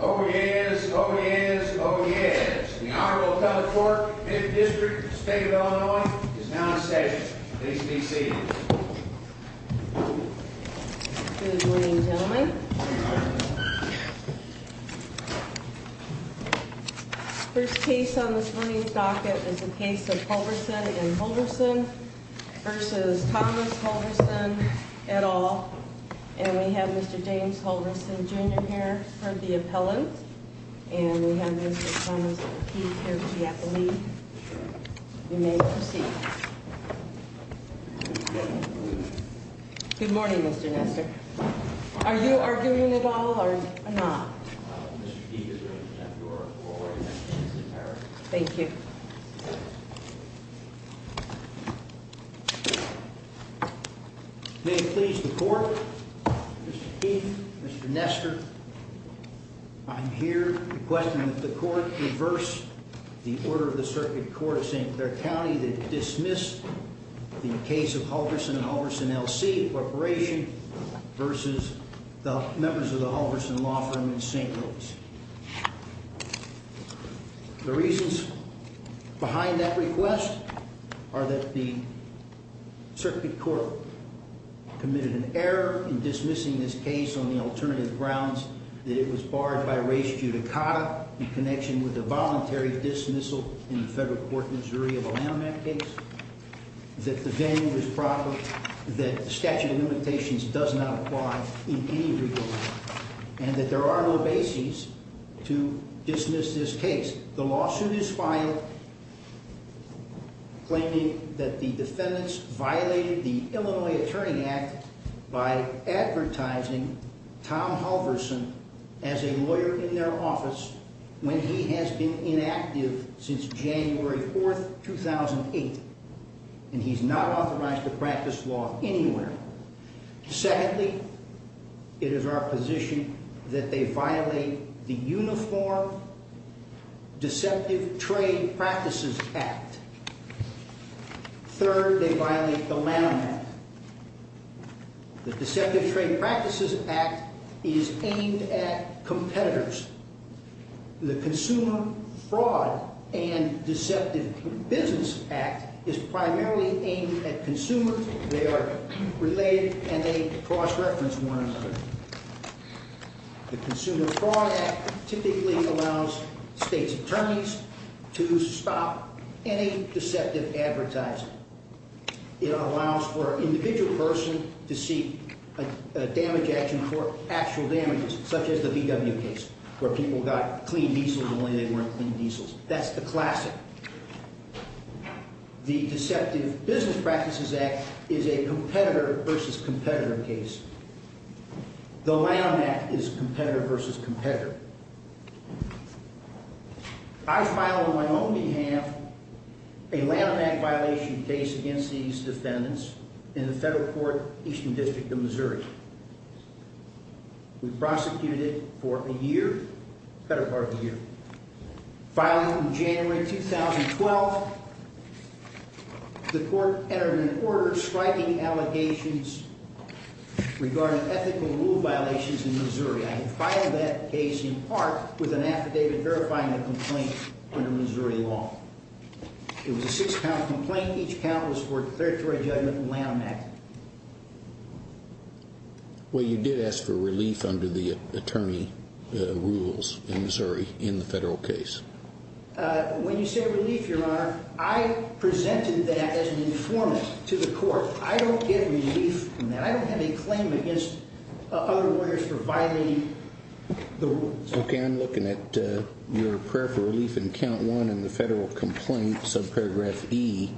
Oh yes, oh yes, oh yes. The Honorable Cutler Court, 5th District, State of Illinois, is now in session. Please be seated. Good morning, gentlemen. First case on this morning's docket is the case of Hulverson & Hullverson v. Thomas Hullverson, et al. And we have Mr. James Hulverson, Jr. here for the appellant. And we have Mr. Thomas P. here to be at the lead. You may proceed. Good morning, Mr. Nestor. Are you arguing at all or not? Mr. P. is arguing that your oral argument is imperative. Thank you. May it please the Court, Mr. P., Mr. Nestor, I'm here requesting that the Court reverse the order of the Circuit Court of St. Clair County that dismissed the case of Hulverson & Hullverson, L.C., Corporation v. the members of the Hullverson Law Firm in St. Louis. The reasons behind that request are that the Circuit Court committed an error in dismissing this case on the alternative grounds that it was barred by race judicata in connection with a voluntary dismissal in the Federal Court of Missouri of a land map case, that the statute of limitations does not apply in any regard, and that there are no bases to dismiss this case. The lawsuit is filed claiming that the defendants violated the Illinois Attorney Act by advertising Tom Hulverson as a lawyer in their office when he has been inactive since January 4, 2008, and he's not authorized to practice law anywhere. Secondly, it is our position that they violate the Uniform Deceptive Trade Practices Act. Third, they violate the Land Map. The Deceptive Trade Practices Act is aimed at competitors. The Consumer Fraud and Deceptive Business Act is primarily aimed at consumers. They are related and they cross-reference one another. The Consumer Fraud Act typically allows state's attorneys to stop any deceptive advertising. It allows for an individual person to seek a damage action for actual damages, such as the VW case, where people got clean diesels only they weren't clean diesels. That's the classic. The Deceptive Business Practices Act is a competitor versus competitor case. The Land Map is competitor versus competitor. I filed on my own behalf a Land Map violation case against these defendants in the Federal Court, Eastern District of Missouri. We prosecuted it for a year, the better part of a year. Filing in January 2012, the court entered an order striking allegations regarding ethical rule violations in Missouri. I filed that case in part with an affidavit verifying the complaint under Missouri law. It was a six-count complaint. Each count was for declaratory judgment and Land Map. Well, you did ask for relief under the attorney rules in Missouri in the federal case. When you say relief, Your Honor, I presented that as an informant to the court. I don't get relief from that. I don't have a claim against other lawyers for violating the rules. Okay, I'm looking at your prayer for relief in count one in the federal complaint, subparagraph E,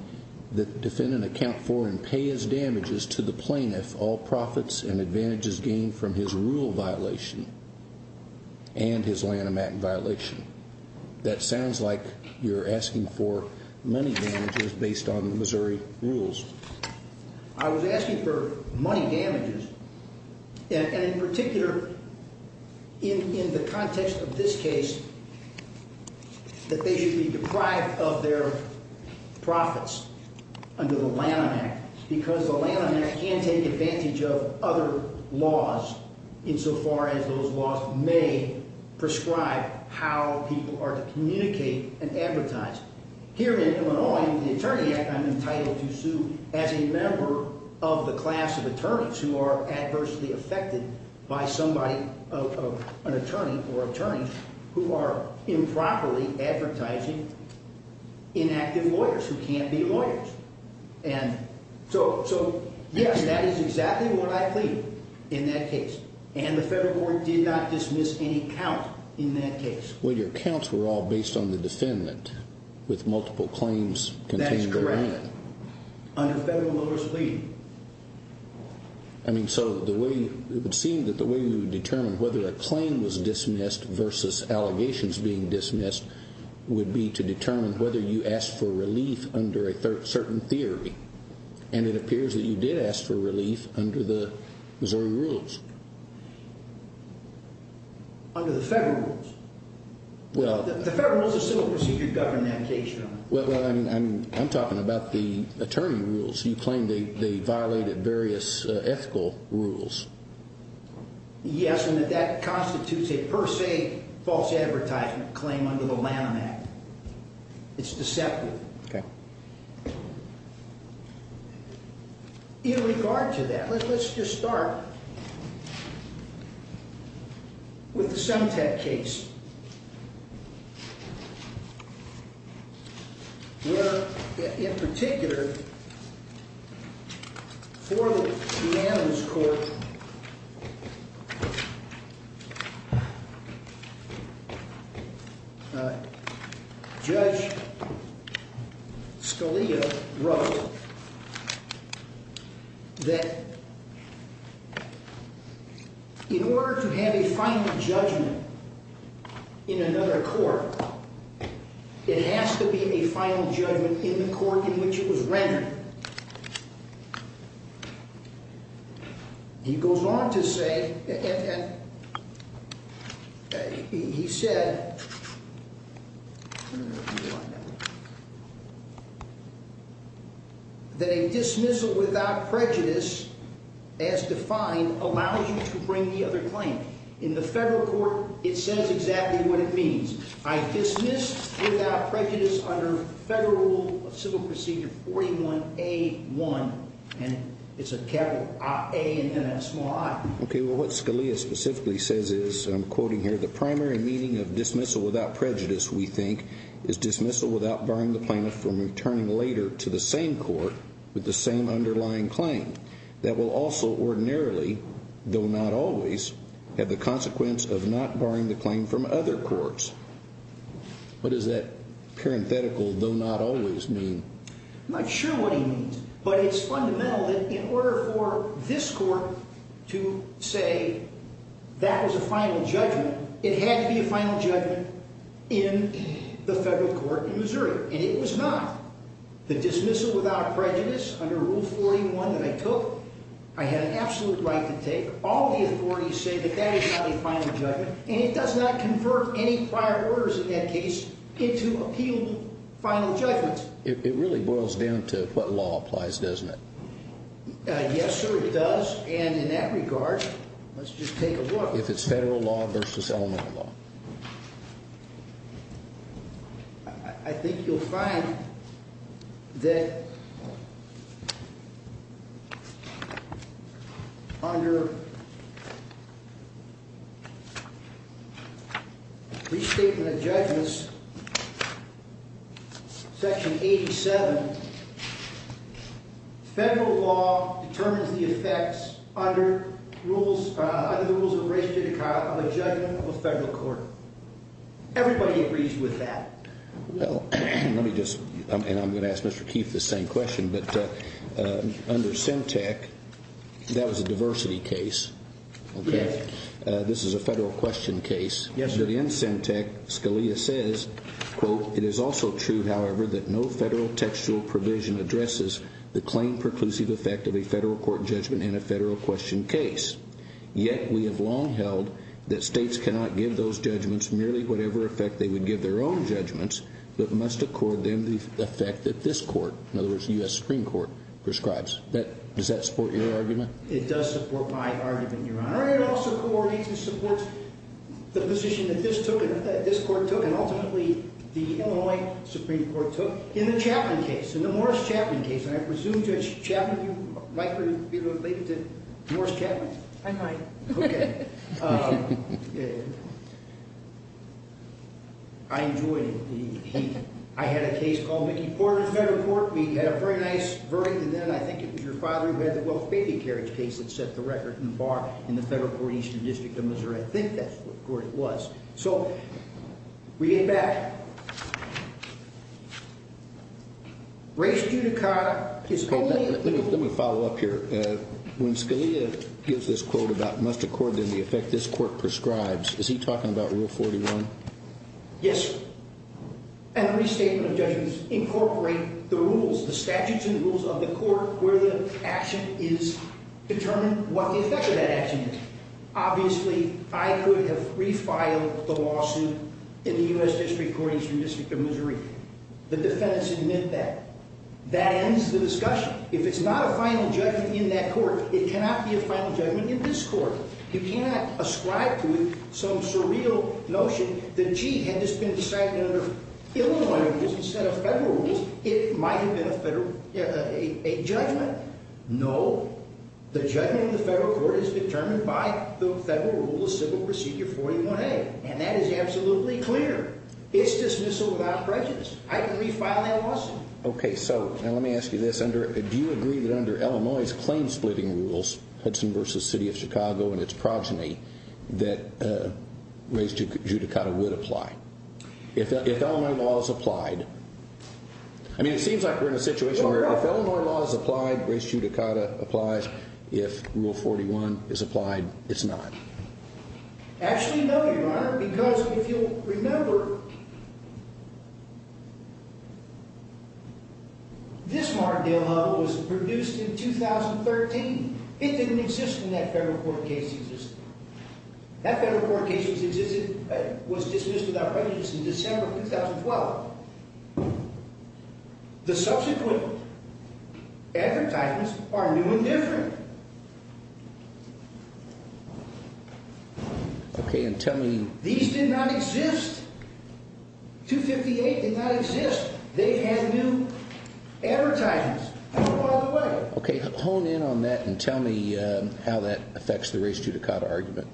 that defendant account for and pay as damages to the plaintiff all profits and advantages gained from his rule violation and his Land Map violation. That sounds like you're asking for money damages based on Missouri rules. I was asking for money damages, and in particular in the context of this case, that they should be deprived of their profits under the Land Map because the Land Map can take advantage of other laws insofar as those laws may prescribe how people are to communicate and advertise. Here in Illinois, with the Attorney Act, I'm entitled to sue as a member of the class of attorneys who are adversely affected by somebody, an attorney or attorneys who are improperly advertising inactive lawyers who can't be lawyers. And so, yes, that is exactly what I plead in that case. And the federal court did not dismiss any count in that case. Well, your counts were all based on the defendant with multiple claims contained therein. That is correct, under federal lawyer's plea. I mean, so it would seem that the way you would determine whether a claim was dismissed versus allegations being dismissed would be to determine whether you asked for relief under a certain theory. And it appears that you did ask for relief under the Missouri rules. Under the federal rules. The federal rules of civil procedure govern that case. Well, I'm talking about the attorney rules. You claim they violated various ethical rules. Yes, and that constitutes a per se false advertisement claim under the Land Map. It's deceptive. Okay. In regard to that, let's just start with the Semtec case. Where, in particular, for the unanimous court, Judge Scalia wrote that in order to have a final judgment in another court, it has to be a final judgment in the court in which it was rendered. He goes on to say, he said that a dismissal without prejudice, as defined, allows you to bring the other claim. In the federal court, it says exactly what it means. I dismissed without prejudice under federal rule of civil procedure 41A1. And it's a capital A and a small i. Okay, well, what Scalia specifically says is, I'm quoting here, the primary meaning of dismissal without prejudice, we think, is dismissal without barring the plaintiff from returning later to the same court with the same underlying claim. That will also ordinarily, though not always, have the consequence of not barring the claim from other courts. What does that parenthetical, though not always, mean? I'm not sure what he means. But it's fundamental that in order for this court to say that was a final judgment, it had to be a final judgment in the federal court in Missouri. And it was not. The dismissal without prejudice under rule 41 that I took, I had an absolute right to take. All the authorities say that that is not a final judgment. And it does not convert any prior orders in that case into appealable final judgments. It really boils down to what law applies, doesn't it? Yes, sir, it does. And in that regard, let's just take a look. If it's federal law versus elementary law. I think you'll find that under restatement of judgments, section 87, federal law determines the effects under the rules of restatement of judgment of a federal court. Everybody agrees with that. Well, let me just, and I'm going to ask Mr. Keefe the same question, but under Sentech, that was a diversity case. Yes. This is a federal question case. Yes, sir. In Sentech, Scalia says, quote, it is also true, however, that no federal textual provision addresses the claim preclusive effect of a federal court judgment in a federal question case. Yet we have long held that states cannot give those judgments merely whatever effect they would give their own judgments, but must accord them the effect that this court, in other words, the U.S. Supreme Court, prescribes. Does that support your argument? It does support my argument, Your Honor. My argument also coordinates and supports the position that this court took and ultimately the Illinois Supreme Court took in the Chapman case, in the Morris-Chapman case, and I presume, Judge Chapman, you would like to relate it to Morris-Chapman. I might. Okay. I enjoyed it. I had a case called Mickey Porter in a federal court. He had a very nice verdict, and then I think it was your father who had the Wealth Baby Carriage case that set the record in the bar in the Federal Court of the Eastern District of Missouri. I think that's what the court was. So we get back. Race judicata is only included. Let me follow up here. When Scalia gives this quote about must accord them the effect this court prescribes, is he talking about Rule 41? Yes, sir. Rule 41 and restatement of judgments incorporate the rules, the statutes and rules of the court where the action is determined, what the effect of that action is. Obviously, I could have refiled the lawsuit in the U.S. District Court of the Eastern District of Missouri. The defendants admit that. That ends the discussion. If it's not a final judgment in that court, it cannot be a final judgment in this court. You cannot ascribe to it some surreal notion that, gee, had this been decided under Illinois rules instead of federal rules, it might have been a judgment. No. The judgment in the federal court is determined by the federal rule of civil procedure 41A, and that is absolutely clear. It's dismissal without prejudice. I can refile that lawsuit. Okay, so now let me ask you this. Do you agree that under Illinois' claim-splitting rules, Hudson v. City of Chicago and its progeny, that res judicata would apply? If Illinois law is applied, I mean, it seems like we're in a situation where if Illinois law is applied, res judicata applies. If Rule 41 is applied, it's not. Actually, no, Your Honor, because if you'll remember, this Martindale model was produced in 2013. It didn't exist when that federal court case existed. That federal court case was dismissed without prejudice in December of 2012. The subsequent advertisements are new and different. Okay, and tell me— These did not exist. 258 did not exist. They had new advertisements. Go all the way. Okay, hone in on that and tell me how that affects the res judicata argument.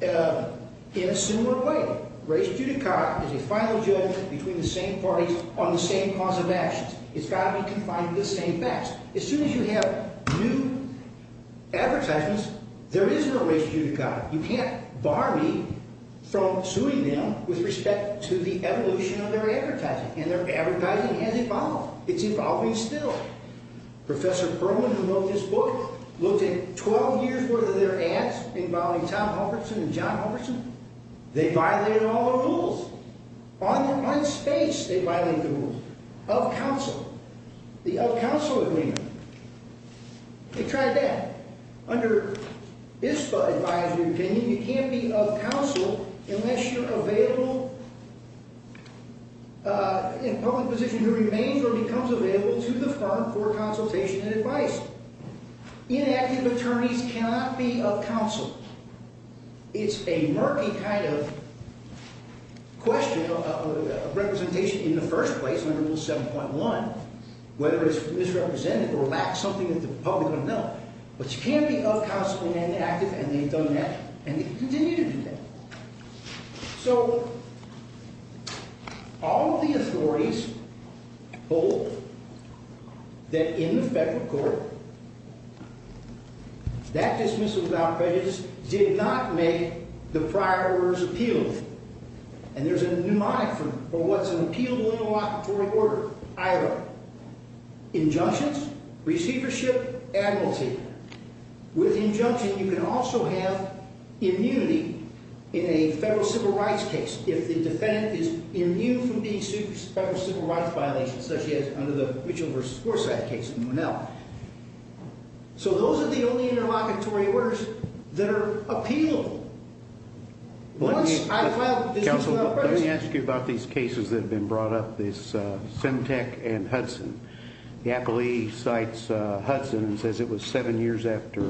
In a similar way. Res judicata is a final judgment between the same parties on the same cause of action. It's got to be confined to the same facts. As soon as you have new advertisements, there is no res judicata. You can't bar me from suing them with respect to the evolution of their advertising. And their advertising has evolved. It's evolving still. Professor Perlman, who wrote this book, looked at 12 years' worth of their ads involving Tom Halverson and John Halverson. They violated all the rules. On space, they violated the rules. Of counsel. The of counsel agreement. They tried that. Under this advisory opinion, you can't be of counsel unless you're available— for consultation and advice. Inactive attorneys cannot be of counsel. It's a murky kind of question of representation in the first place under Rule 7.1, whether it's misrepresented or lacks something that the public ought to know. But you can't be of counsel and inactive, and they've done that, and they continue to do that. So all of the authorities hold that in the federal court, that dismissal without prejudice did not make the prior orders appealable. And there's a mnemonic for what's an appealable interlocutory order. I don't know. Injunctions, receivership, admiralty. With injunction, you can also have immunity in a federal civil rights case if the defendant is immune from being sued for a federal civil rights violation, such as under the Mitchell v. Forsythe case in Monell. So those are the only interlocutory orders that are appealable. Once I filed a dismissal without prejudice— Counsel, let me ask you about these cases that have been brought up, this Semtec and Hudson. The appellee cites Hudson and says it was seven years after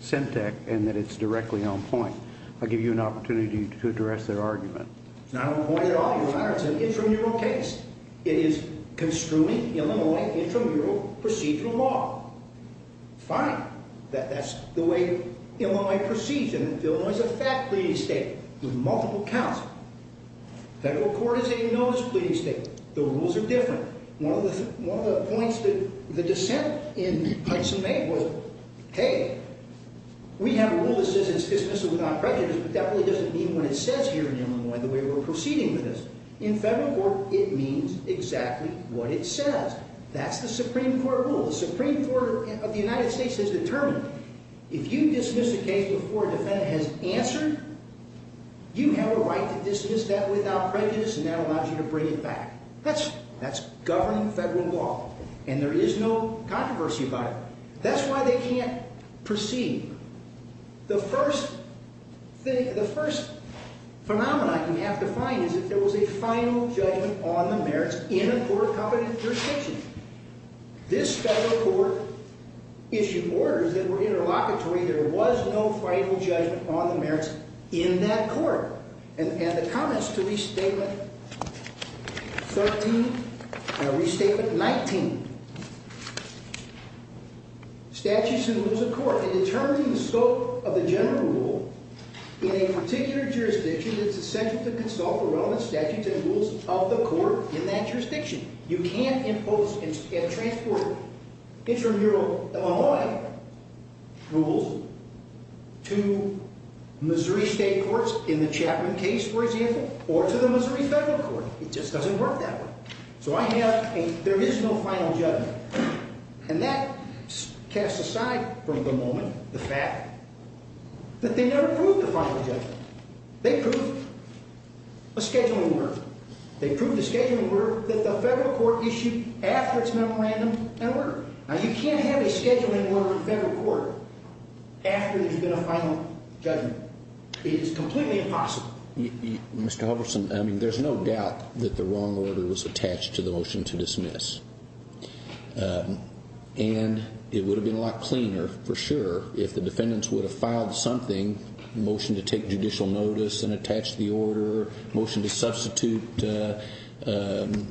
Semtec and that it's directly on point. I'll give you an opportunity to address their argument. It's not on point at all, Your Honor. It's an intramural case. It is construing Illinois intramural procedural law. Fine. That's the way Illinois proceeds. And Illinois is a fat pleading state with multiple counsel. The federal court doesn't even know this pleading state. The rules are different. One of the points that the dissent in Hudson made was, hey, we have a rule that says it's dismissal without prejudice, but that really doesn't mean what it says here in Illinois, the way we're proceeding with this. In federal court, it means exactly what it says. That's the Supreme Court rule. The Supreme Court of the United States has determined if you dismiss a case before a defendant has answered, you have a right to dismiss that without prejudice, and that allows you to bring it back. That's governing federal law, and there is no controversy about it. That's why they can't proceed. The first phenomenon you have to find is that there was a final judgment on the merits in a court-competent jurisdiction. This federal court issued orders that were interlocutory. There was no final judgment on the merits in that court. The comments to Restatement 19, Statutes and Rules of Court, in determining the scope of the general rule in a particular jurisdiction, it's essential to consult the relevant statutes and rules of the court in that jurisdiction. You can't impose and transport intramural Illinois rules to Missouri state courts in the Chapman case, for example, or to the Missouri federal court. It just doesn't work that way. So I have a, there is no final judgment, and that casts aside from the moment the fact that they never proved the final judgment. They proved a scheduling error. They proved a scheduling error that the federal court issued after its memorandum and order. Now, you can't have a scheduling error in a federal court after there's been a final judgment. It is completely impossible. Mr. Huberson, I mean, there's no doubt that the wrong order was attached to the motion to dismiss. And it would have been a lot cleaner, for sure, if the defendants would have filed something, a motion to take judicial notice and attach the order, a motion to substitute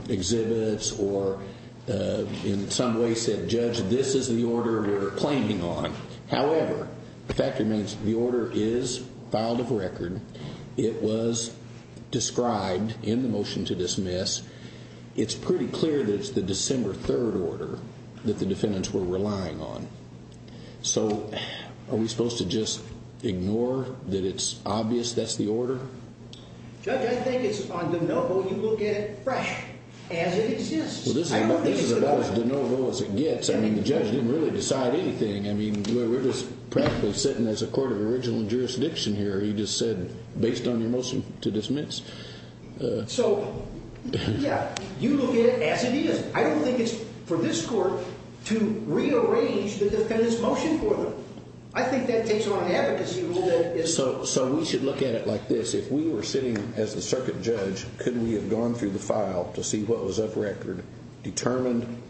exhibits, or in some way said, Judge, this is the order we're claiming on. However, the fact remains the order is filed of record. It was described in the motion to dismiss. It's pretty clear that it's the December 3rd order that the defendants were relying on. So are we supposed to just ignore that it's obvious that's the order? Judge, I think it's on de novo. You look at it fresh as it exists. Well, this is about as de novo as it gets. I mean, the judge didn't really decide anything. I mean, we're just practically sitting as a court of original jurisdiction here. He just said, based on your motion to dismiss. So, yeah, you look at it as it is. I don't think it's for this court to rearrange the defendant's motion for them. I think that takes it on advocacy. So we should look at it like this. If we were sitting as the circuit judge, couldn't we have gone through the file to see what was up record, determined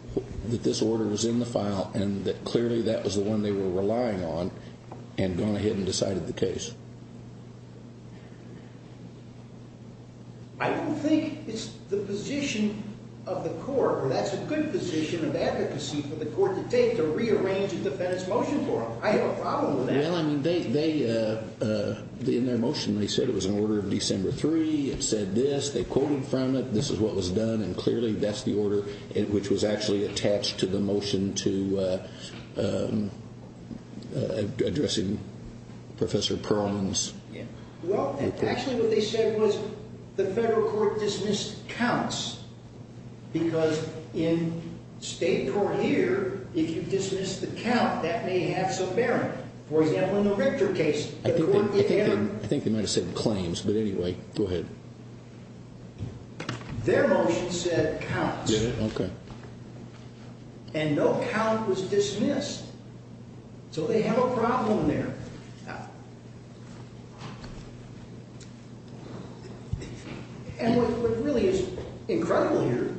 that this order was in the file and that clearly that was the one they were relying on, and gone ahead and decided the case? I don't think it's the position of the court or that's a good position of advocacy for the court to take to rearrange the defendant's motion for them. I have a problem with that. Well, I mean, in their motion they said it was an order of December 3. It said this. They quoted from it. This is what was done, and clearly that's the order, which was actually attached to the motion to addressing Professor Perlman's report. Well, actually what they said was the federal court dismissed counts because in state court here, if you dismiss the count, that may have some bearing, for example, in the Richter case. I think they might have said claims, but anyway, go ahead. Their motion said counts, and no count was dismissed. So they have a problem there. And what really is incredible here,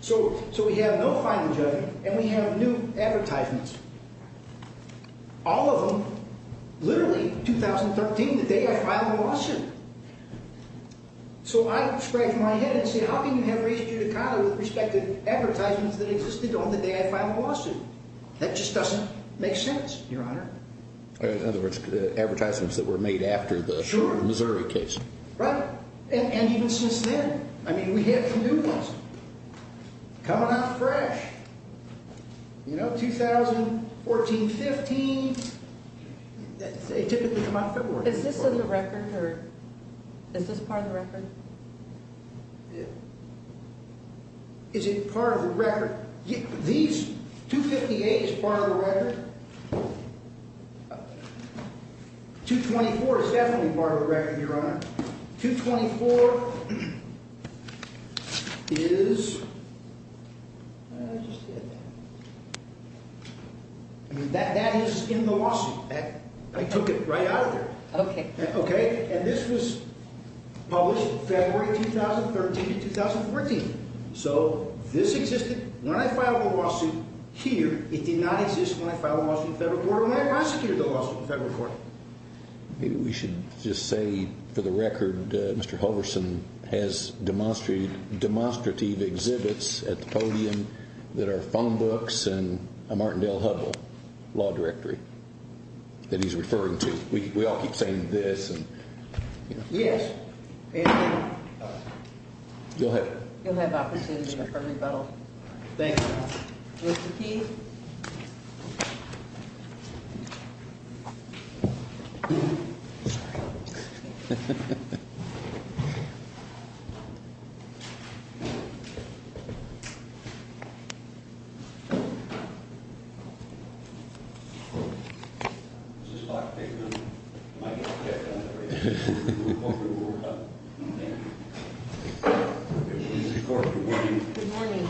so we have no final judgment, and we have new advertisements, all of them literally 2013, the day I filed the lawsuit. So I scratch my head and say, how can you have raised your economy with respect to advertisements that existed on the day I filed the lawsuit? That just doesn't make sense, Your Honor. In other words, advertisements that were made after the Missouri case. Right, and even since then. I mean, we have some new ones coming out fresh. You know, 2014-15, they typically come out February. Is this in the record, or is this part of the record? Is it part of the record? These, 258 is part of the record. 224 is definitely part of the record, Your Honor. 224 is, I mean, that is in the lawsuit. I took it right out of there. Okay. Okay, and this was published February 2013 to 2014. So this existed when I filed the lawsuit here. It did not exist when I filed the lawsuit in federal court or when I prosecuted the lawsuit in federal court. Maybe we should just say, for the record, Mr. Hoverson has demonstrative exhibits at the podium that are phone books and a Martindale-Hubbell law directory that he's referring to. We all keep saying this. Yes. You'll have opportunity to refer me to that. Thank you. Mr. Peay. Mr. Spock. Mr. Spock, good morning. Good morning.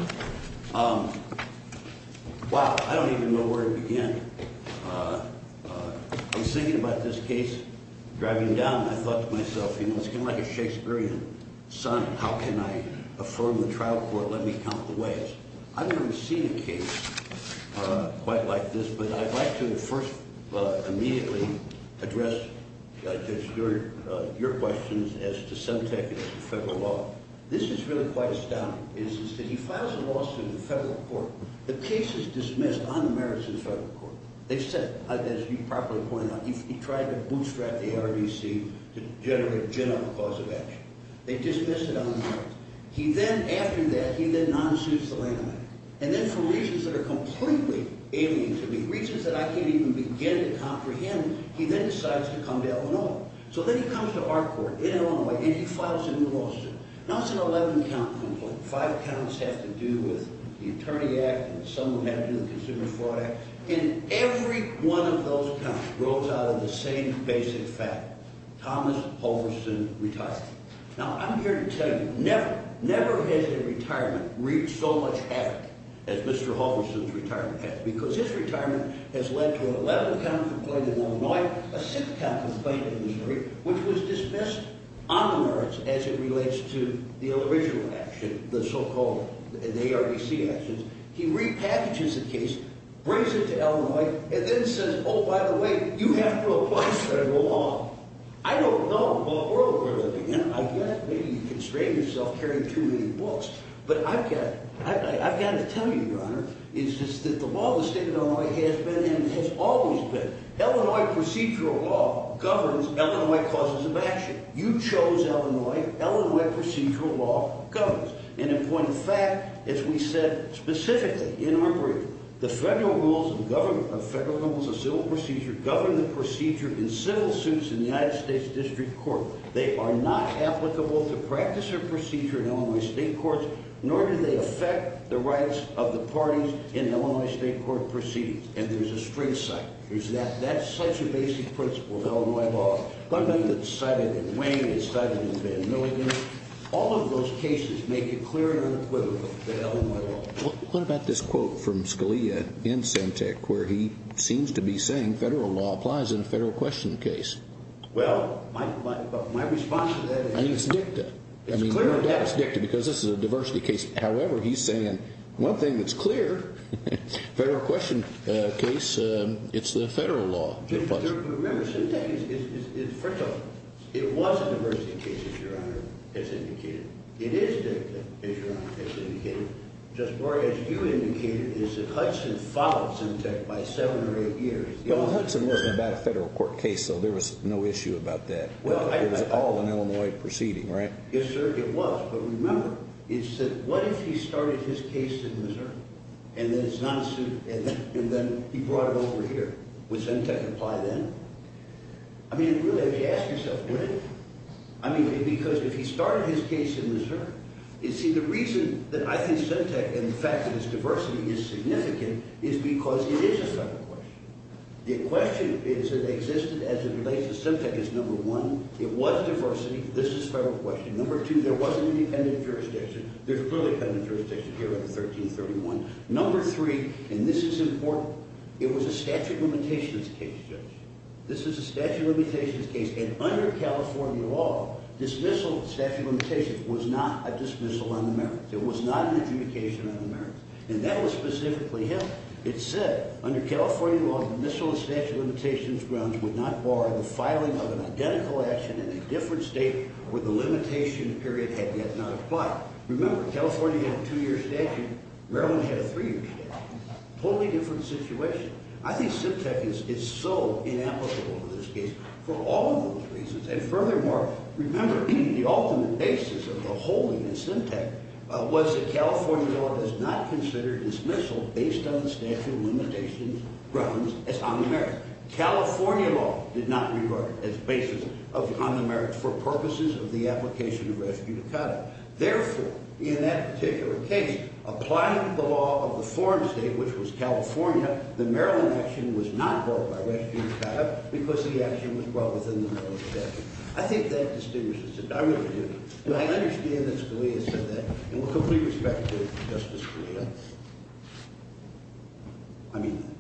Wow, I don't even know where to begin. I was thinking about this case driving down, and I thought to myself, you know, it's kind of like a Shakespearean sonnet, how can I affirm the trial court, let me count the ways. I've never seen a case quite like this, but I'd like to first immediately address your questions as to some techniques of federal law. This is really quite astounding. He files a lawsuit in federal court. The case is dismissed on the merits of the federal court. They said, as you properly pointed out, he tried to bootstrap the ARDC to generate a general cause of action. They dismissed it on the merits. He then, after that, he then non-sues the landowner. And then for reasons that are completely alien to me, reasons that I can't even begin to comprehend, he then decides to come to Illinois. So then he comes to our court in Illinois, and he files a new lawsuit. Now, it's an 11-count complaint. Five counts have to do with the Attorney Act and some have to do with the Consumer Fraud Act, and every one of those counts rolls out of the same basic fact. Thomas Holberston retires. Now, I'm here to tell you, never, never has a retirement reached so much havoc as Mr. Holberston's retirement has, because his retirement has led to an 11-count complaint in Illinois, a 6-count complaint in Missouri, which was dismissed on the merits as it relates to the original action, the so-called ARDC actions. He repackages the case, brings it to Illinois, and then says, oh, by the way, you have to apply federal law. I don't know. I guess maybe you constrain yourself carrying too many books. But I've got to tell you, Your Honor, is that the law of the state of Illinois has been and has always been, Illinois procedural law governs Illinois causes of action. You chose Illinois. Illinois procedural law governs. And in point of fact, as we said specifically in our brief, the federal rules of government, govern the procedure in civil suits in the United States District Court. They are not applicable to practice or procedure in Illinois state courts, nor do they affect the rights of the parties in Illinois state court proceedings. And there's a string cycle. There's that. That's such a basic principle of Illinois law. What about the deciding in Wayne, the deciding in Van Milligan? All of those cases make it clear and unequivocal that Illinois law. What about this quote from Scalia in Santec where he seems to be saying federal law applies in a federal question case? Well, my response to that is it's clear. It's dicta because this is a diversity case. However, he's saying one thing that's clear, federal question case, it's the federal law. Remember, Santec is, first of all, it was a diversity case, as Your Honor has indicated. It is dicta, as Your Honor has indicated. Just as you indicated, Hudson followed Santec by seven or eight years. Well, Hudson wasn't about a federal court case, so there was no issue about that. It was all an Illinois proceeding, right? Yes, sir, it was. But remember, he said what if he started his case in Missouri and then he brought it over here? Would Santec apply then? I mean, really, if you ask yourself, would it? I mean, because if he started his case in Missouri, you see, the reason that I think Santec and the fact that it's diversity is significant is because it is a federal question. The question is it existed as it relates to Santec is, number one, it was diversity. This is a federal question. Number two, there wasn't an independent jurisdiction. There's clearly an independent jurisdiction here under 1331. Number three, and this is important, it was a statute of limitations case, Judge. This is a statute of limitations case, and under California law, dismissal of statute of limitations was not a dismissal on the merits. It was not an adjudication on the merits, and that was specifically him. It said, under California law, the dismissal of statute of limitations grounds would not bar the filing of an identical action in a different state where the limitation period had yet not applied. Remember, California had a two-year statute. Maryland had a three-year statute. Totally different situation. I think Santec is so inapplicable in this case for all of those reasons, and furthermore, remember, the ultimate basis of the holding in Santec was that California law does not consider dismissal based on statute of limitations grounds as on the merits. California law did not regard it as basis on the merits for purposes of the application of res judicata. Therefore, in that particular case, applying the law of the foreign state, which was California, the Maryland action was not brought by res judicata because the action was brought within the Maryland statute. I think that distinguishes it. I really do. I understand that Scalia said that, and with complete respect to Justice Scalia, I mean that.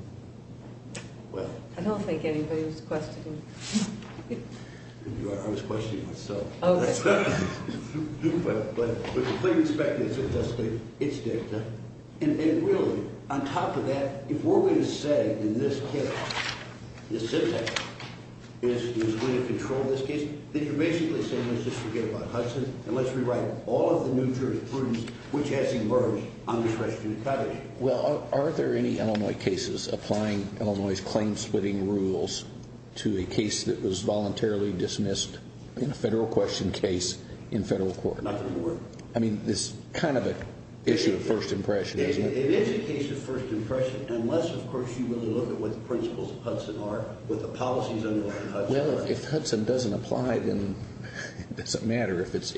I don't think anybody was questioning. I was questioning myself. Okay. But with complete respect to Justice Scalia, it's dicta. And really, on top of that, if we're going to say in this case that Santec is going to control this case, then you're basically saying let's just forget about Hudson and let's rewrite all of the new jurisprudence which has emerged on this res judicata issue. Well, are there any Illinois cases applying Illinois' claim-splitting rules to a case that was voluntarily dismissed in a federal question case in federal court? Not anymore. I mean, this is kind of an issue of first impression, isn't it? It is a case of first impression, unless, of course, you really look at what the principles of Hudson are, what the policies under Hudson are. Well, if Hudson doesn't apply, then it doesn't matter if it's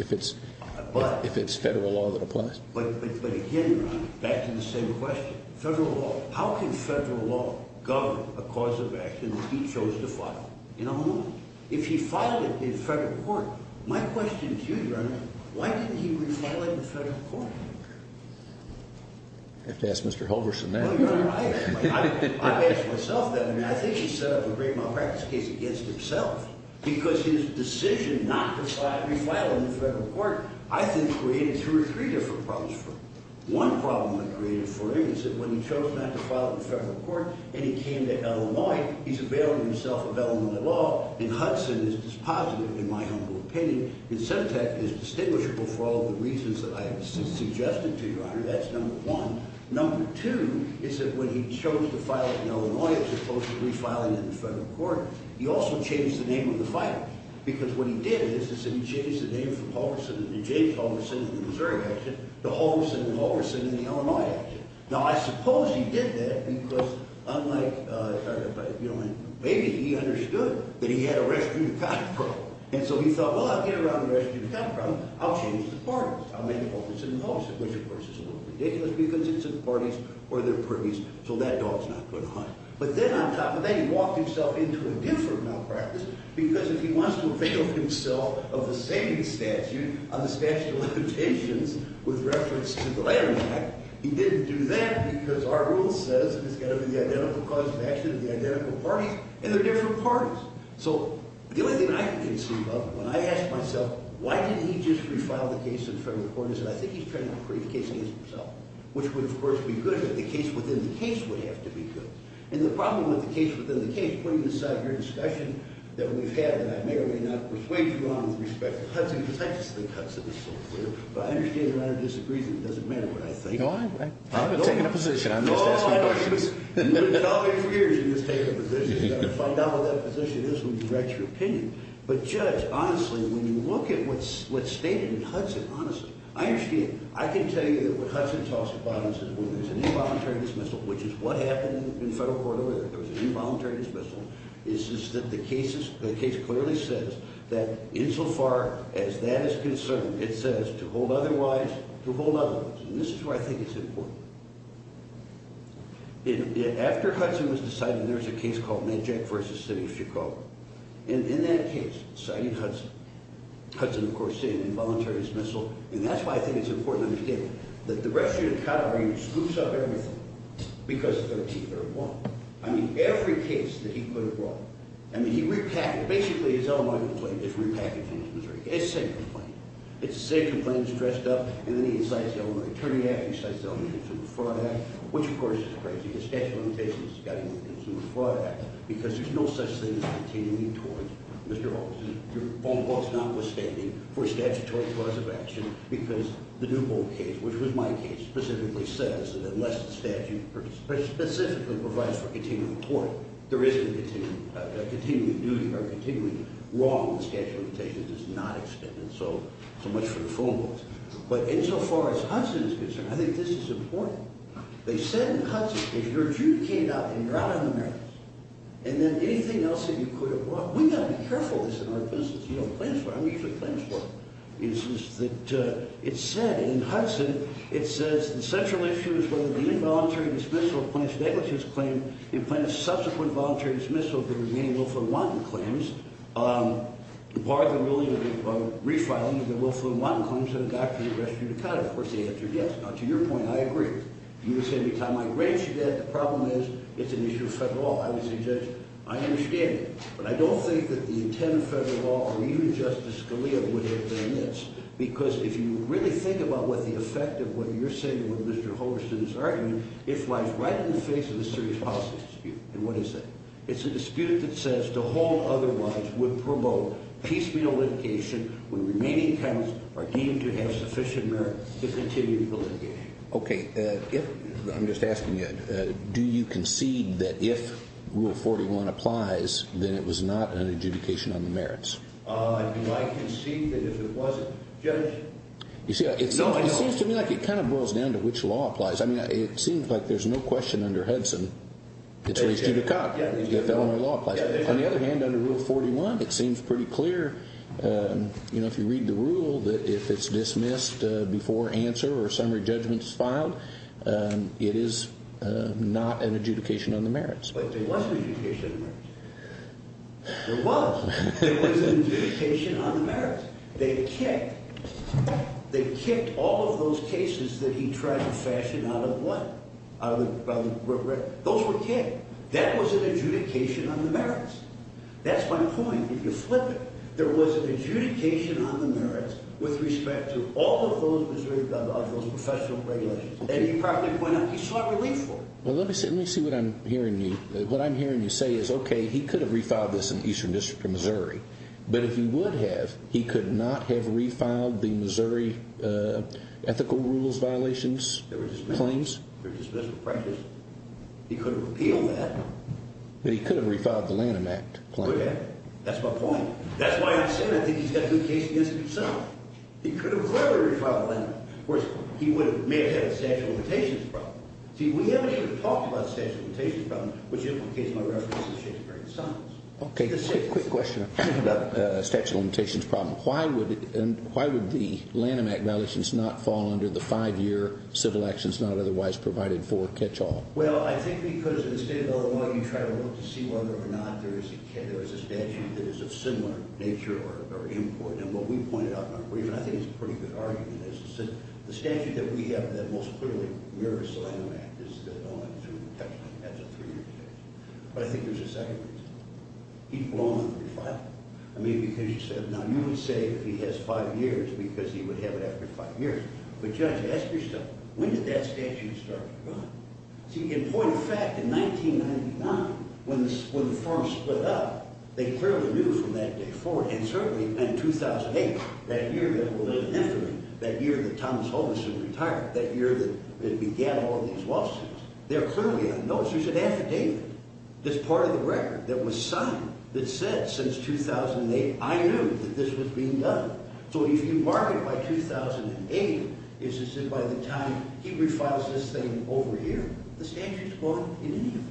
federal law that applies. But again, back to the same question, federal law. Governor, a cause of action, he chose to file. You know why? If he filed it in federal court, my question to you, Your Honor, why didn't he refile it in federal court? I have to ask Mr. Helgerson that. I've asked myself that. I think he set up a great malpractice case against himself because his decision not to refile it in federal court, I think, created three different problems for him. One problem that created for him is that when he chose not to file it in federal court and he came to Illinois, he's availing himself of Illinois law, and Hudson is dispositive, in my humble opinion, and Sentak is distinguishable for all the reasons that I have suggested to you, Your Honor. That's number one. Number two is that when he chose to file it in Illinois as opposed to refiling it in federal court, he also changed the name of the file because what he did is he changed the name from James Helgerson in the Missouri action to Helgerson and Helgerson in the Illinois action. Now, I suppose he did that because maybe he understood that he had a rescue to come from, and so he thought, well, I'll get around the rescue to come from. I'll change the parties. I'll make it Helgerson and Helgerson, which, of course, is a little ridiculous because it's the parties where they're privies, so that dog's not going to hunt. But then on top of that, he walked himself into a different malpractice because if he wants to avail himself of the same statute on the statute of limitations with reference to the Larry Act, he didn't do that because our rule says that it's got to be the identical cause of action of the identical parties, and they're different parties. So the only thing I can conceive of when I ask myself, why didn't he just refile the case in federal court, is that I think he's trying to create a case against himself, which would, of course, be good if the case within the case would have to be good. And the problem with the case within the case, putting aside your discussion that we've had, and I may or may not persuade you on with respect to Hudson, because I just think Hudson is so clear, but I understand that I disagree with you. It doesn't matter what I think. No, I'm taking a position. I'm just asking questions. No, no, no. You've been talking for years. You're just taking a position. You've got to find out what that position is when you write your opinion. But, Judge, honestly, when you look at what's stated in Hudson, honestly, I understand. I can tell you that what Hudson talks about is an involuntary dismissal, which is what happened in federal court earlier. There was an involuntary dismissal. It's just that the case clearly says that insofar as that is concerned, it says to hold otherwise, to hold otherwise. And this is where I think it's important. After Hudson was decided, there was a case called Medjack v. City, if you call it. And in that case, citing Hudson, Hudson, of course, saying involuntary dismissal, and that's why I think it's important to understand that the rest of your category scoops up everything because of 1331. I mean, every case that he could have brought, I mean, he repackaged. Basically, his Illinois complaint is repackaged into Missouri. It's the same complaint. It's the same complaint that's dressed up, and then he incites the Illinois attorney after he incites the Illinois Conviction of Fraud Act, which, of course, is crazy. The statute of limitations has got to be in the Conviction of Fraud Act because there's no such thing as continuing towards Mr. Olson, your own boss notwithstanding, for statutory cause of action because the DuPont case, which was my case, specifically says that unless the statute specifically provides for continuing court, there is no continuing duty or continuing wrong. The statute of limitations does not extend it so much for the phone books. But insofar as Hudson is concerned, I think this is important. They said in Hudson's case, your judge came out and brought on the merits, and then anything else that you could have brought, we've got to be careful in our business. You know, the claims court, I'm used to the claims court, is that it said in Hudson, it says, the central issue is whether the involuntary dismissal of a plaintiff's negligence claim in plaintiff's subsequent voluntary dismissal of the remaining Wilford Wanton claims bar the ruling of refiling of the Wilford Wanton claims and a doctrine of res judicata. Of course, the answer is yes. Now, to your point, I agree. You can say any time I grant you that. The problem is it's an issue of federal law. I would suggest I understand it, but I don't think that the intent of federal law or even Justice Scalia would have been this, because if you really think about what the effect of what you're saying and what Mr. Holderston is arguing, it flies right in the face of a serious policy dispute. And what is that? It's a dispute that says to hold otherwise would promote piecemeal litigation when remaining counts are deemed to have sufficient merit to continue the litigation. Okay. I'm just asking you, do you concede that if Rule 41 applies, then it was not an adjudication on the merits? Do I concede that if it wasn't judged? You see, it seems to me like it kind of boils down to which law applies. I mean, it seems like there's no question under Hudson it's res judicata, that the federal law applies. On the other hand, under Rule 41, it seems pretty clear, you know, if you read the rule, that if it's dismissed before answer or summary judgment is filed, it is not an adjudication on the merits. But there was an adjudication on the merits. There was. There was an adjudication on the merits. They kicked all of those cases that he tried to fashion out of what? Those were kicked. That was an adjudication on the merits. That's my point. If you flip it, there was an adjudication on the merits with respect to all of those professional regulations. And you probably point out he sought relief for it. Well, let me see what I'm hearing you say is, okay, he could have refiled this in the Eastern District of Missouri, but if he would have, he could not have refiled the Missouri ethical rules violations claims. There were dismissal practices. He could have repealed that. But he could have refiled the Lanham Act claim. He could have. That's my point. That's why I'm saying I think he's got a good case against himself. He could have readily refiled the Lanham Act. Whereas he may have had a statute of limitations problem. See, we haven't even talked about the statute of limitations problem, which implicates my reference to the Shakespearean sons. Okay. Just a quick question about the statute of limitations problem. Why would the Lanham Act violations not fall under the five-year civil actions not otherwise provided for catch-all? Well, I think because in the State of Illinois, you try to look to see whether or not there is a statute that is of similar nature or import. And what we pointed out in our brief, and I think it's a pretty good argument, is that the statute that we have that most clearly mirrors the Lanham Act is the Illinois Consumer Protection Act. That's a three-year detention. But I think there's a second reason. He'd blown the refile. I mean, because you said, now you would say that he has five years because he would have it after five years. But you have to ask yourself, when did that statute start to run? See, in point of fact, in 1999, when the firm split up, they clearly knew from that day forward, and certainly in 2008, that year that we'll live in infamy, that year that Thomas Hovis would retire, that year that it began all these lawsuits, they're clearly on notice. There's an affidavit that's part of the record that was signed that said since 2008, I knew that this was being done. So if you mark it by 2008, it's as if by the time he refiles this thing over here, the statute's gone in any event.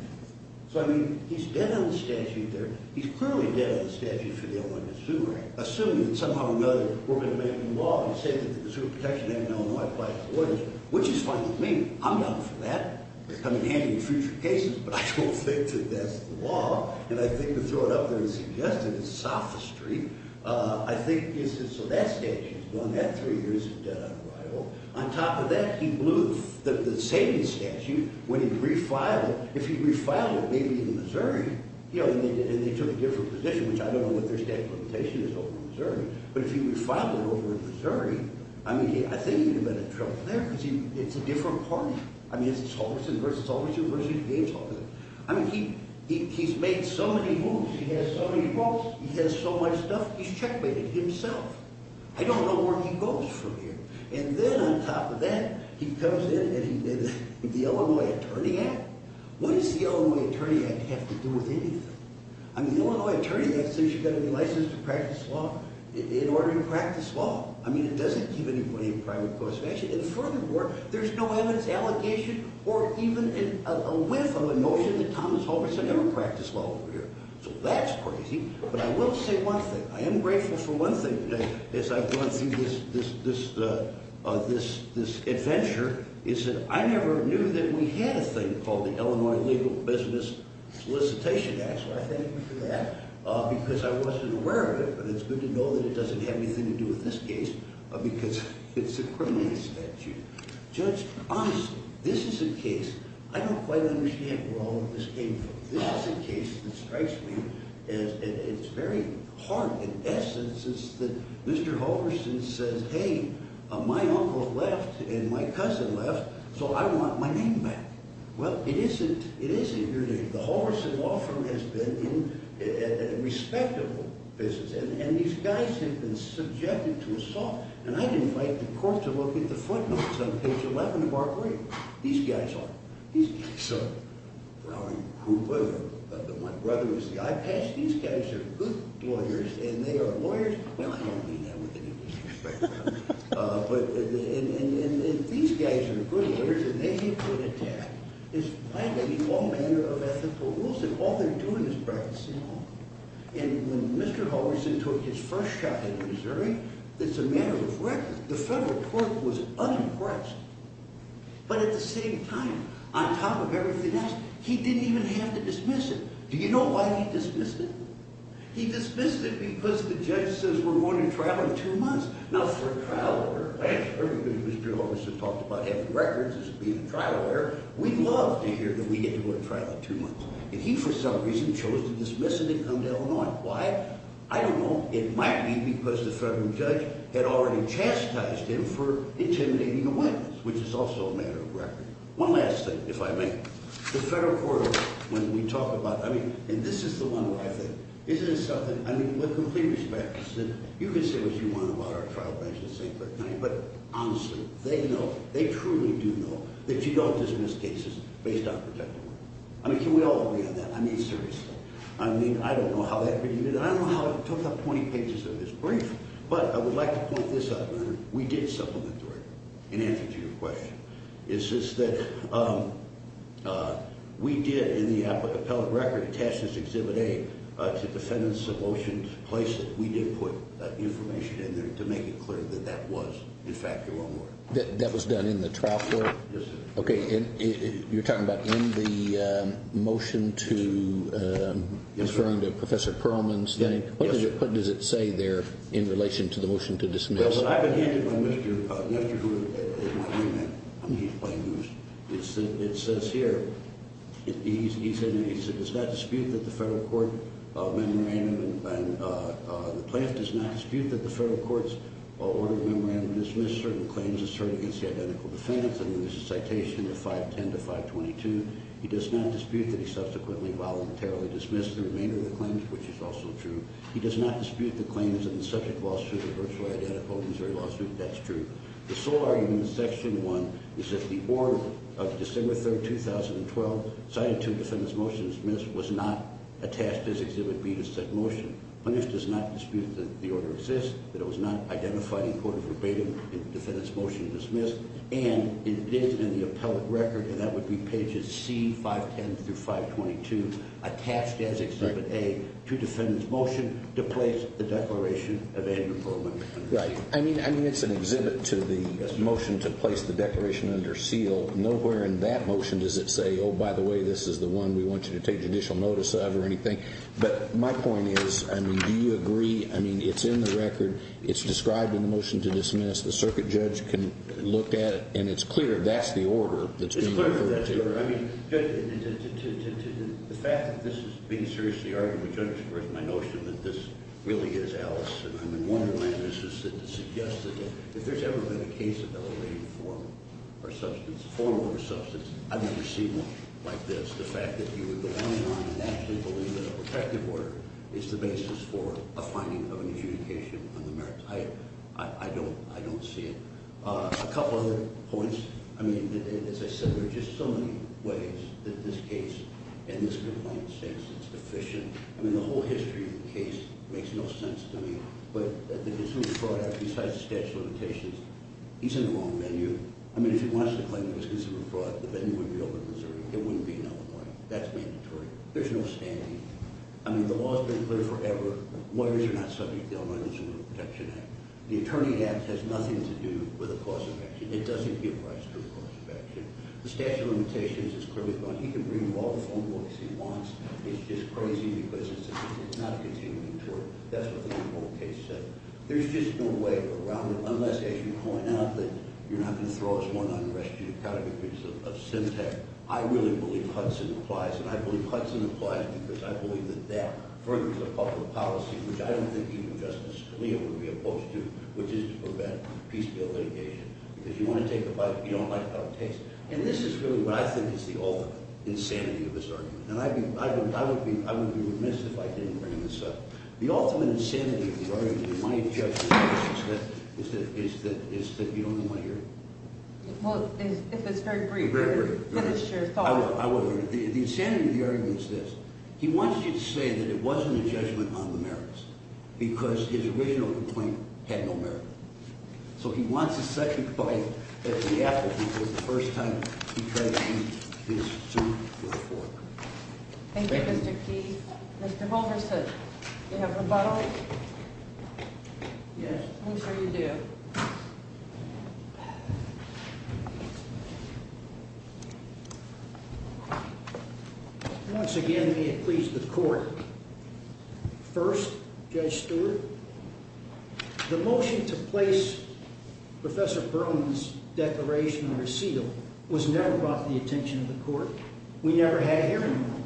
So, I mean, he's been on the statute there. He's clearly dead on the statute for the Illinois Missouri. Assuming that somehow or another, we're going to make a new law and say that the Missouri Protection Act of Illinois applies to lawyers, which is fine with me. I'm down for that. It'll come in handy in future cases, but I don't think that that's the law. And I think to throw it out there and suggest it is sophistry. I think, so that statute's gone, that three years is dead on arrival. On top of that, he blew the savings statute when he refiled it. If he refiled it, maybe in Missouri, you know, and they took a different position, which I don't know what their statute of limitation is over in Missouri, but if he refiled it over in Missouri, I mean, I think he would have been in trouble there because it's a different party. I mean, it's Salterson versus Salterson versus James Salterson. I mean, he's made so many moves. He has so many books. He has so much stuff. He's checkmated himself. I don't know where he goes from here. And then on top of that, he comes in and he did the Illinois Attorney Act. What does the Illinois Attorney Act have to do with anything? I mean, the Illinois Attorney Act says you've got to be licensed to practice law in order to practice law. I mean, it doesn't give anybody a private cause of action, and furthermore, there's no evidence, allegation, or even a whiff of a notion that Thomas Halverson ever practiced law over here. So that's crazy, but I will say one thing. I am grateful for one thing today as I've gone through this adventure, is that I never knew that we had a thing called the Illinois Legal Business Solicitation Act, so I thank you for that, because I wasn't aware of it, but it's good to know that it doesn't have anything to do with this case because it's a criminal statute. Judge, honestly, this is a case, I don't quite understand where all of this came from. This is a case that strikes me as, it's very hard in essence, is that Mr. Halverson says, hey, my uncle left and my cousin left, so I want my name back. Well, it isn't your name. The Halverson Law Firm has been in a respectable business, and these guys have been subjected to assault, and I invite the court to look at the front notes on page 11 of our agreement. These guys are, these guys are, my brother was the eyepatch, these guys are good lawyers, and they are lawyers, well, I don't mean that with any disrespect, but these guys are good lawyers, and they can put a tag. It's violating all manner of ethical rules, and all they're doing is practicing law. And when Mr. Halverson took his first shot at Missouri, it's a matter of record, the federal court was unimpressed. But at the same time, on top of everything else, he didn't even have to dismiss it. Do you know why he dismissed it? He dismissed it because the judge says we're going to trial in two months. Now, for a trial order, as Mr. Halverson talked about having records as being a trial lawyer, we love to hear that we get to go to trial in two months. And he, for some reason, chose to dismiss it and come to Illinois. Why? I don't know. It might be because the federal judge had already chastised him for intimidating a witness, which is also a matter of record. One last thing, if I may. The federal court, when we talk about, I mean, and this is the one where I think, isn't this something, I mean, with complete respect, Mr. Halverson, you can say what you want about our trial bench at St. Cliff County, but honestly, they know, they truly do know that you don't dismiss cases based on protected word. I mean, can we all agree on that? I mean, seriously. I mean, I don't know how that could even, and I don't know how he took up 20 pages of his brief, but I would like to point this out, and we did supplement the record in answer to your question. It's just that we did, in the appellate record, attach this Exhibit A to defendants of motion in the place that we did put that information in there to make it clear that that was, in fact, the wrong word. That was done in the trial court? Yes, it was. Okay, and you're talking about in the motion to referring to Professor Perlman's thing? Yes, sir. What does it say there in relation to the motion to dismiss? Well, I've been handed by Mr. Horton, he's playing goose, it says here, he said, and he said, that the federal court memorandum, and the plaintiff does not dispute that the federal court's order of memorandum to dismiss certain claims asserted against the identical defendants, and there's a citation of 510 to 522, he does not dispute that he subsequently voluntarily dismissed the remainder of the claims, which is also true. He does not dispute the claims of the subject lawsuit of the virtually identical Missouri lawsuit, that's true. is that the order of December 3rd, 2012, cited to a defendant's motion to dismiss was not attached as Exhibit B to said motion. Plaintiff does not dispute that the order exists, that it was not identified in court verbatim in the defendant's motion to dismiss, and it is in the appellate record, and that would be pages C, 510 through 522, attached as Exhibit A to defendant's motion to place the declaration of Andrew Perlman. Right, I mean, it's an exhibit to the motion to place the declaration under seal, nowhere in that motion does it say, oh, by the way, this is the one we want you to take judicial notice of or anything, but my point is, I mean, do you agree, I mean, it's in the record, it's described in the motion to dismiss, the circuit judge can look at it, and it's clear that's the order that's being referred to. It's clear that that's the order, I mean, the fact that this is being seriously argued, which underscores my notion that this really is Alice, and I'm in wonderland, is to suggest that if there's ever been a case evaluating formal or substance, formal or substance, I've never seen one like this, the fact that he would go down the line and actually believe that a protective order is the basis for a finding of an adjudication on the merits, I don't see it. A couple other points, I mean, as I said, there are just so many ways that this case and this complaint stands as deficient. I mean, the whole history of the case makes no sense to me, but the consumer fraud act, besides the statute of limitations, he's in the wrong venue. I mean, if he wants to claim there was consumer fraud, the venue wouldn't be open in Missouri, it wouldn't be in Illinois. That's mandatory. There's no standing. I mean, the law's been clear forever. Lawyers are not subject to the Illinois Consumer Protection Act. The attorney act has nothing to do with the cause of action. It doesn't give rise to the cause of action. The statute of limitations is clearly gone. He can bring all the phone books he wants. It's just crazy new business, and it's not continuing to work. That's what the whole case said. There's just no way around it, unless, as you point out, that you're not going to throw us one unrescued kind of a piece of syntax. I really believe Hudson applies, and I believe Hudson applies because I believe that that furthers the public policy, which I don't think even Justice Scalia would be opposed to, which is to prevent peace-building agents. Because you want to take a bite, but you don't like how it tastes. And this is really what I think is the ultimate insanity of this argument. And I would be remiss if I didn't bring this up. The ultimate insanity of the argument, in my judgment, Justice Smith, is that you don't want to hear it. Well, if it's very brief. Very brief. Finish your thought. I will. The insanity of the argument is this. He wants you to say that it wasn't a judgment on the merits because his original complaint had no merits. So he wants a second bite that the applicant gets the first time he tries to eat his soup or fork. Thank you, Mr. Key. Mr. Holberson, do you have a rebuttal? Yes. I'm sure you do. Thank you. Once again, may it please the Court. First, Judge Stewart, the motion to place Professor Perlman's declaration under seal was never brought to the attention of the Court. We never had a hearing on it.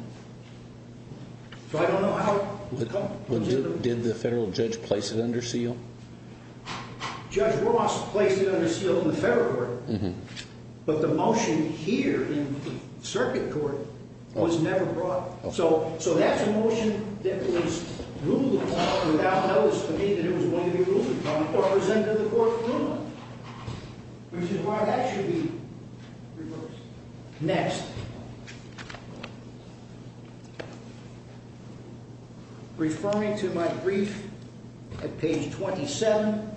So I don't know how it comes in. Did the federal judge place it under seal? No. Judge Ross placed it under seal in the federal court, but the motion here in the circuit court was never brought. So that's a motion that was ruled upon without notice to me that it was going to be ruled upon or presented to the Court of Ruling, which is why that should be reversed. Next. Referring to my brief at page 27,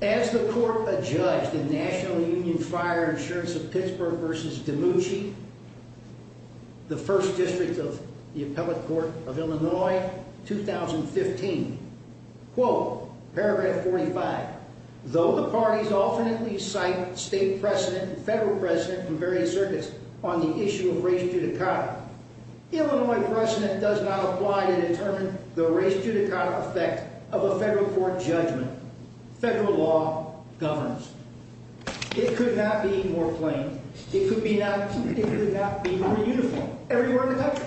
as the Court adjudged in National Union Fire Insurance of Pittsburgh v. DiMucci, the First District of the Appellate Court of Illinois, 2015, quote, paragraph 45, though the parties alternately cite state precedent and federal precedent from various circuits on the issue of res judicata, Illinois precedent does not apply to determine the res judicata effect of a federal court judgment. Federal law governs. It could not be more plain. It could not be more uniform everywhere in the country.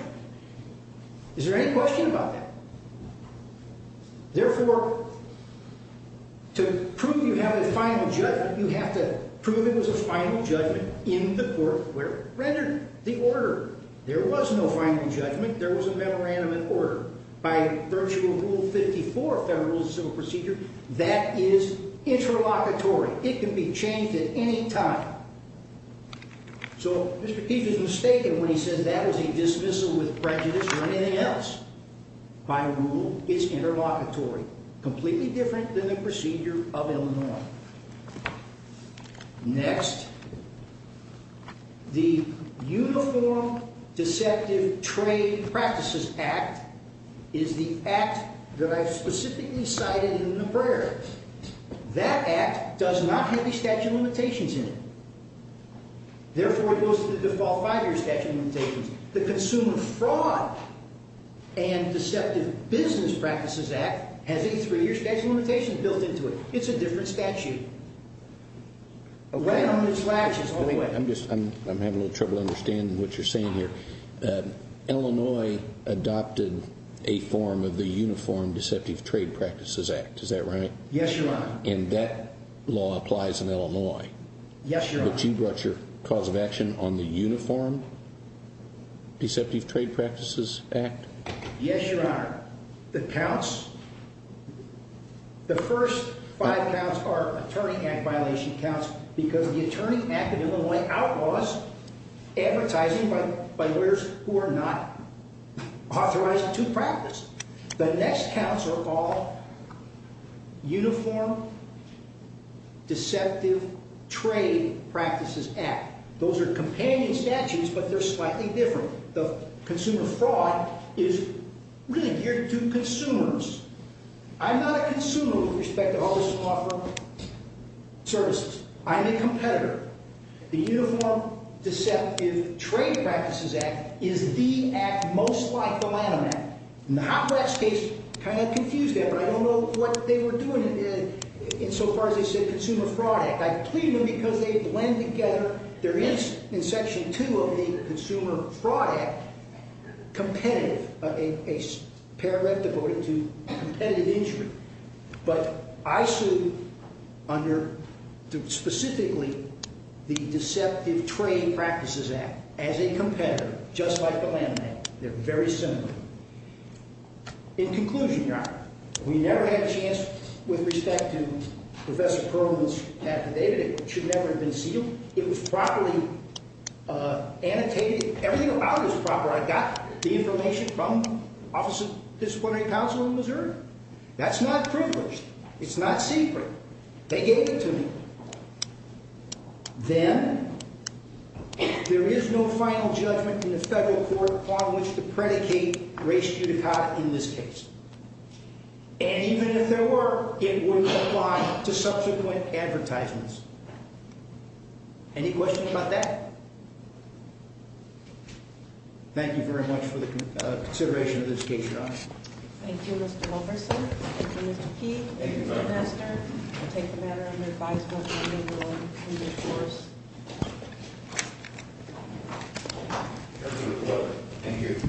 Is there any question about that? Therefore, to prove you have a final judgment, you have to prove it was a final judgment in the court where it rendered the order. There was no final judgment. There was a memorandum in order. By virtue of Rule 54 of Federal Civil Procedure, that is interlocutory. It can be changed at any time. So Mr. Keith is mistaken when he says that was a dismissal with prejudice or anything else. By rule, it's interlocutory, completely different than the procedure of Illinois. Next, the Uniform Deceptive Trade Practices Act is the act that I specifically cited in the prayer. That act does not have the statute of limitations in it. The Consumer Fraud and Deceptive Business Practices Act has a three-year statute of limitations built into it. It's a different statute. Right under its lashes. I'm having a little trouble understanding what you're saying here. Illinois adopted a form of the Uniform Deceptive Trade Practices Act. Is that right? Yes, Your Honor. And that law applies in Illinois? Yes, Your Honor. But you brought your cause of action on the Uniform Deceptive Trade Practices Act? Yes, Your Honor. The counts, the first five counts are Attorney Act violation counts because the Attorney Act of Illinois outlaws advertising by lawyers who are not authorized to practice. The next counts are called Uniform Deceptive Trade Practices Act. Those are companion statutes, but they're slightly different. The Consumer Fraud is really geared to consumers. I'm not a consumer with respect to how this is going to offer services. I'm a competitor. The Uniform Deceptive Trade Practices Act is the act most like the Lanham Act. In the Hoplatz case, kind of confused there, but I don't know what they were doing insofar as they said Consumer Fraud Act. I plead with them because they blend together. There is, in Section 2 of the Consumer Fraud Act, competitive, a paragraph devoted to competitive injury. But I sued under specifically the Deceptive Trade Practices Act as a competitor, just like the Lanham Act. They're very similar. In conclusion, Your Honor, we never had a chance with respect to Professor Perlman's affidavit. It should never have been sealed. It was properly annotated. Everything about it was proper. I got the information from Office of Disciplinary Counsel in Missouri. That's not privileged. It's not secret. They gave it to me. Then, there is no final judgment in the federal court upon which to predicate race judicata in this case. And even if there were, it wouldn't apply to subsequent advertisements. Any questions about that? Thank you very much for the consideration of this case, Your Honor. Thank you, Mr. Wilkerson. Thank you, Mr. Key. Thank you, Mr. Lester. I take the matter under advisement of the legal and criminal courts. Thank you.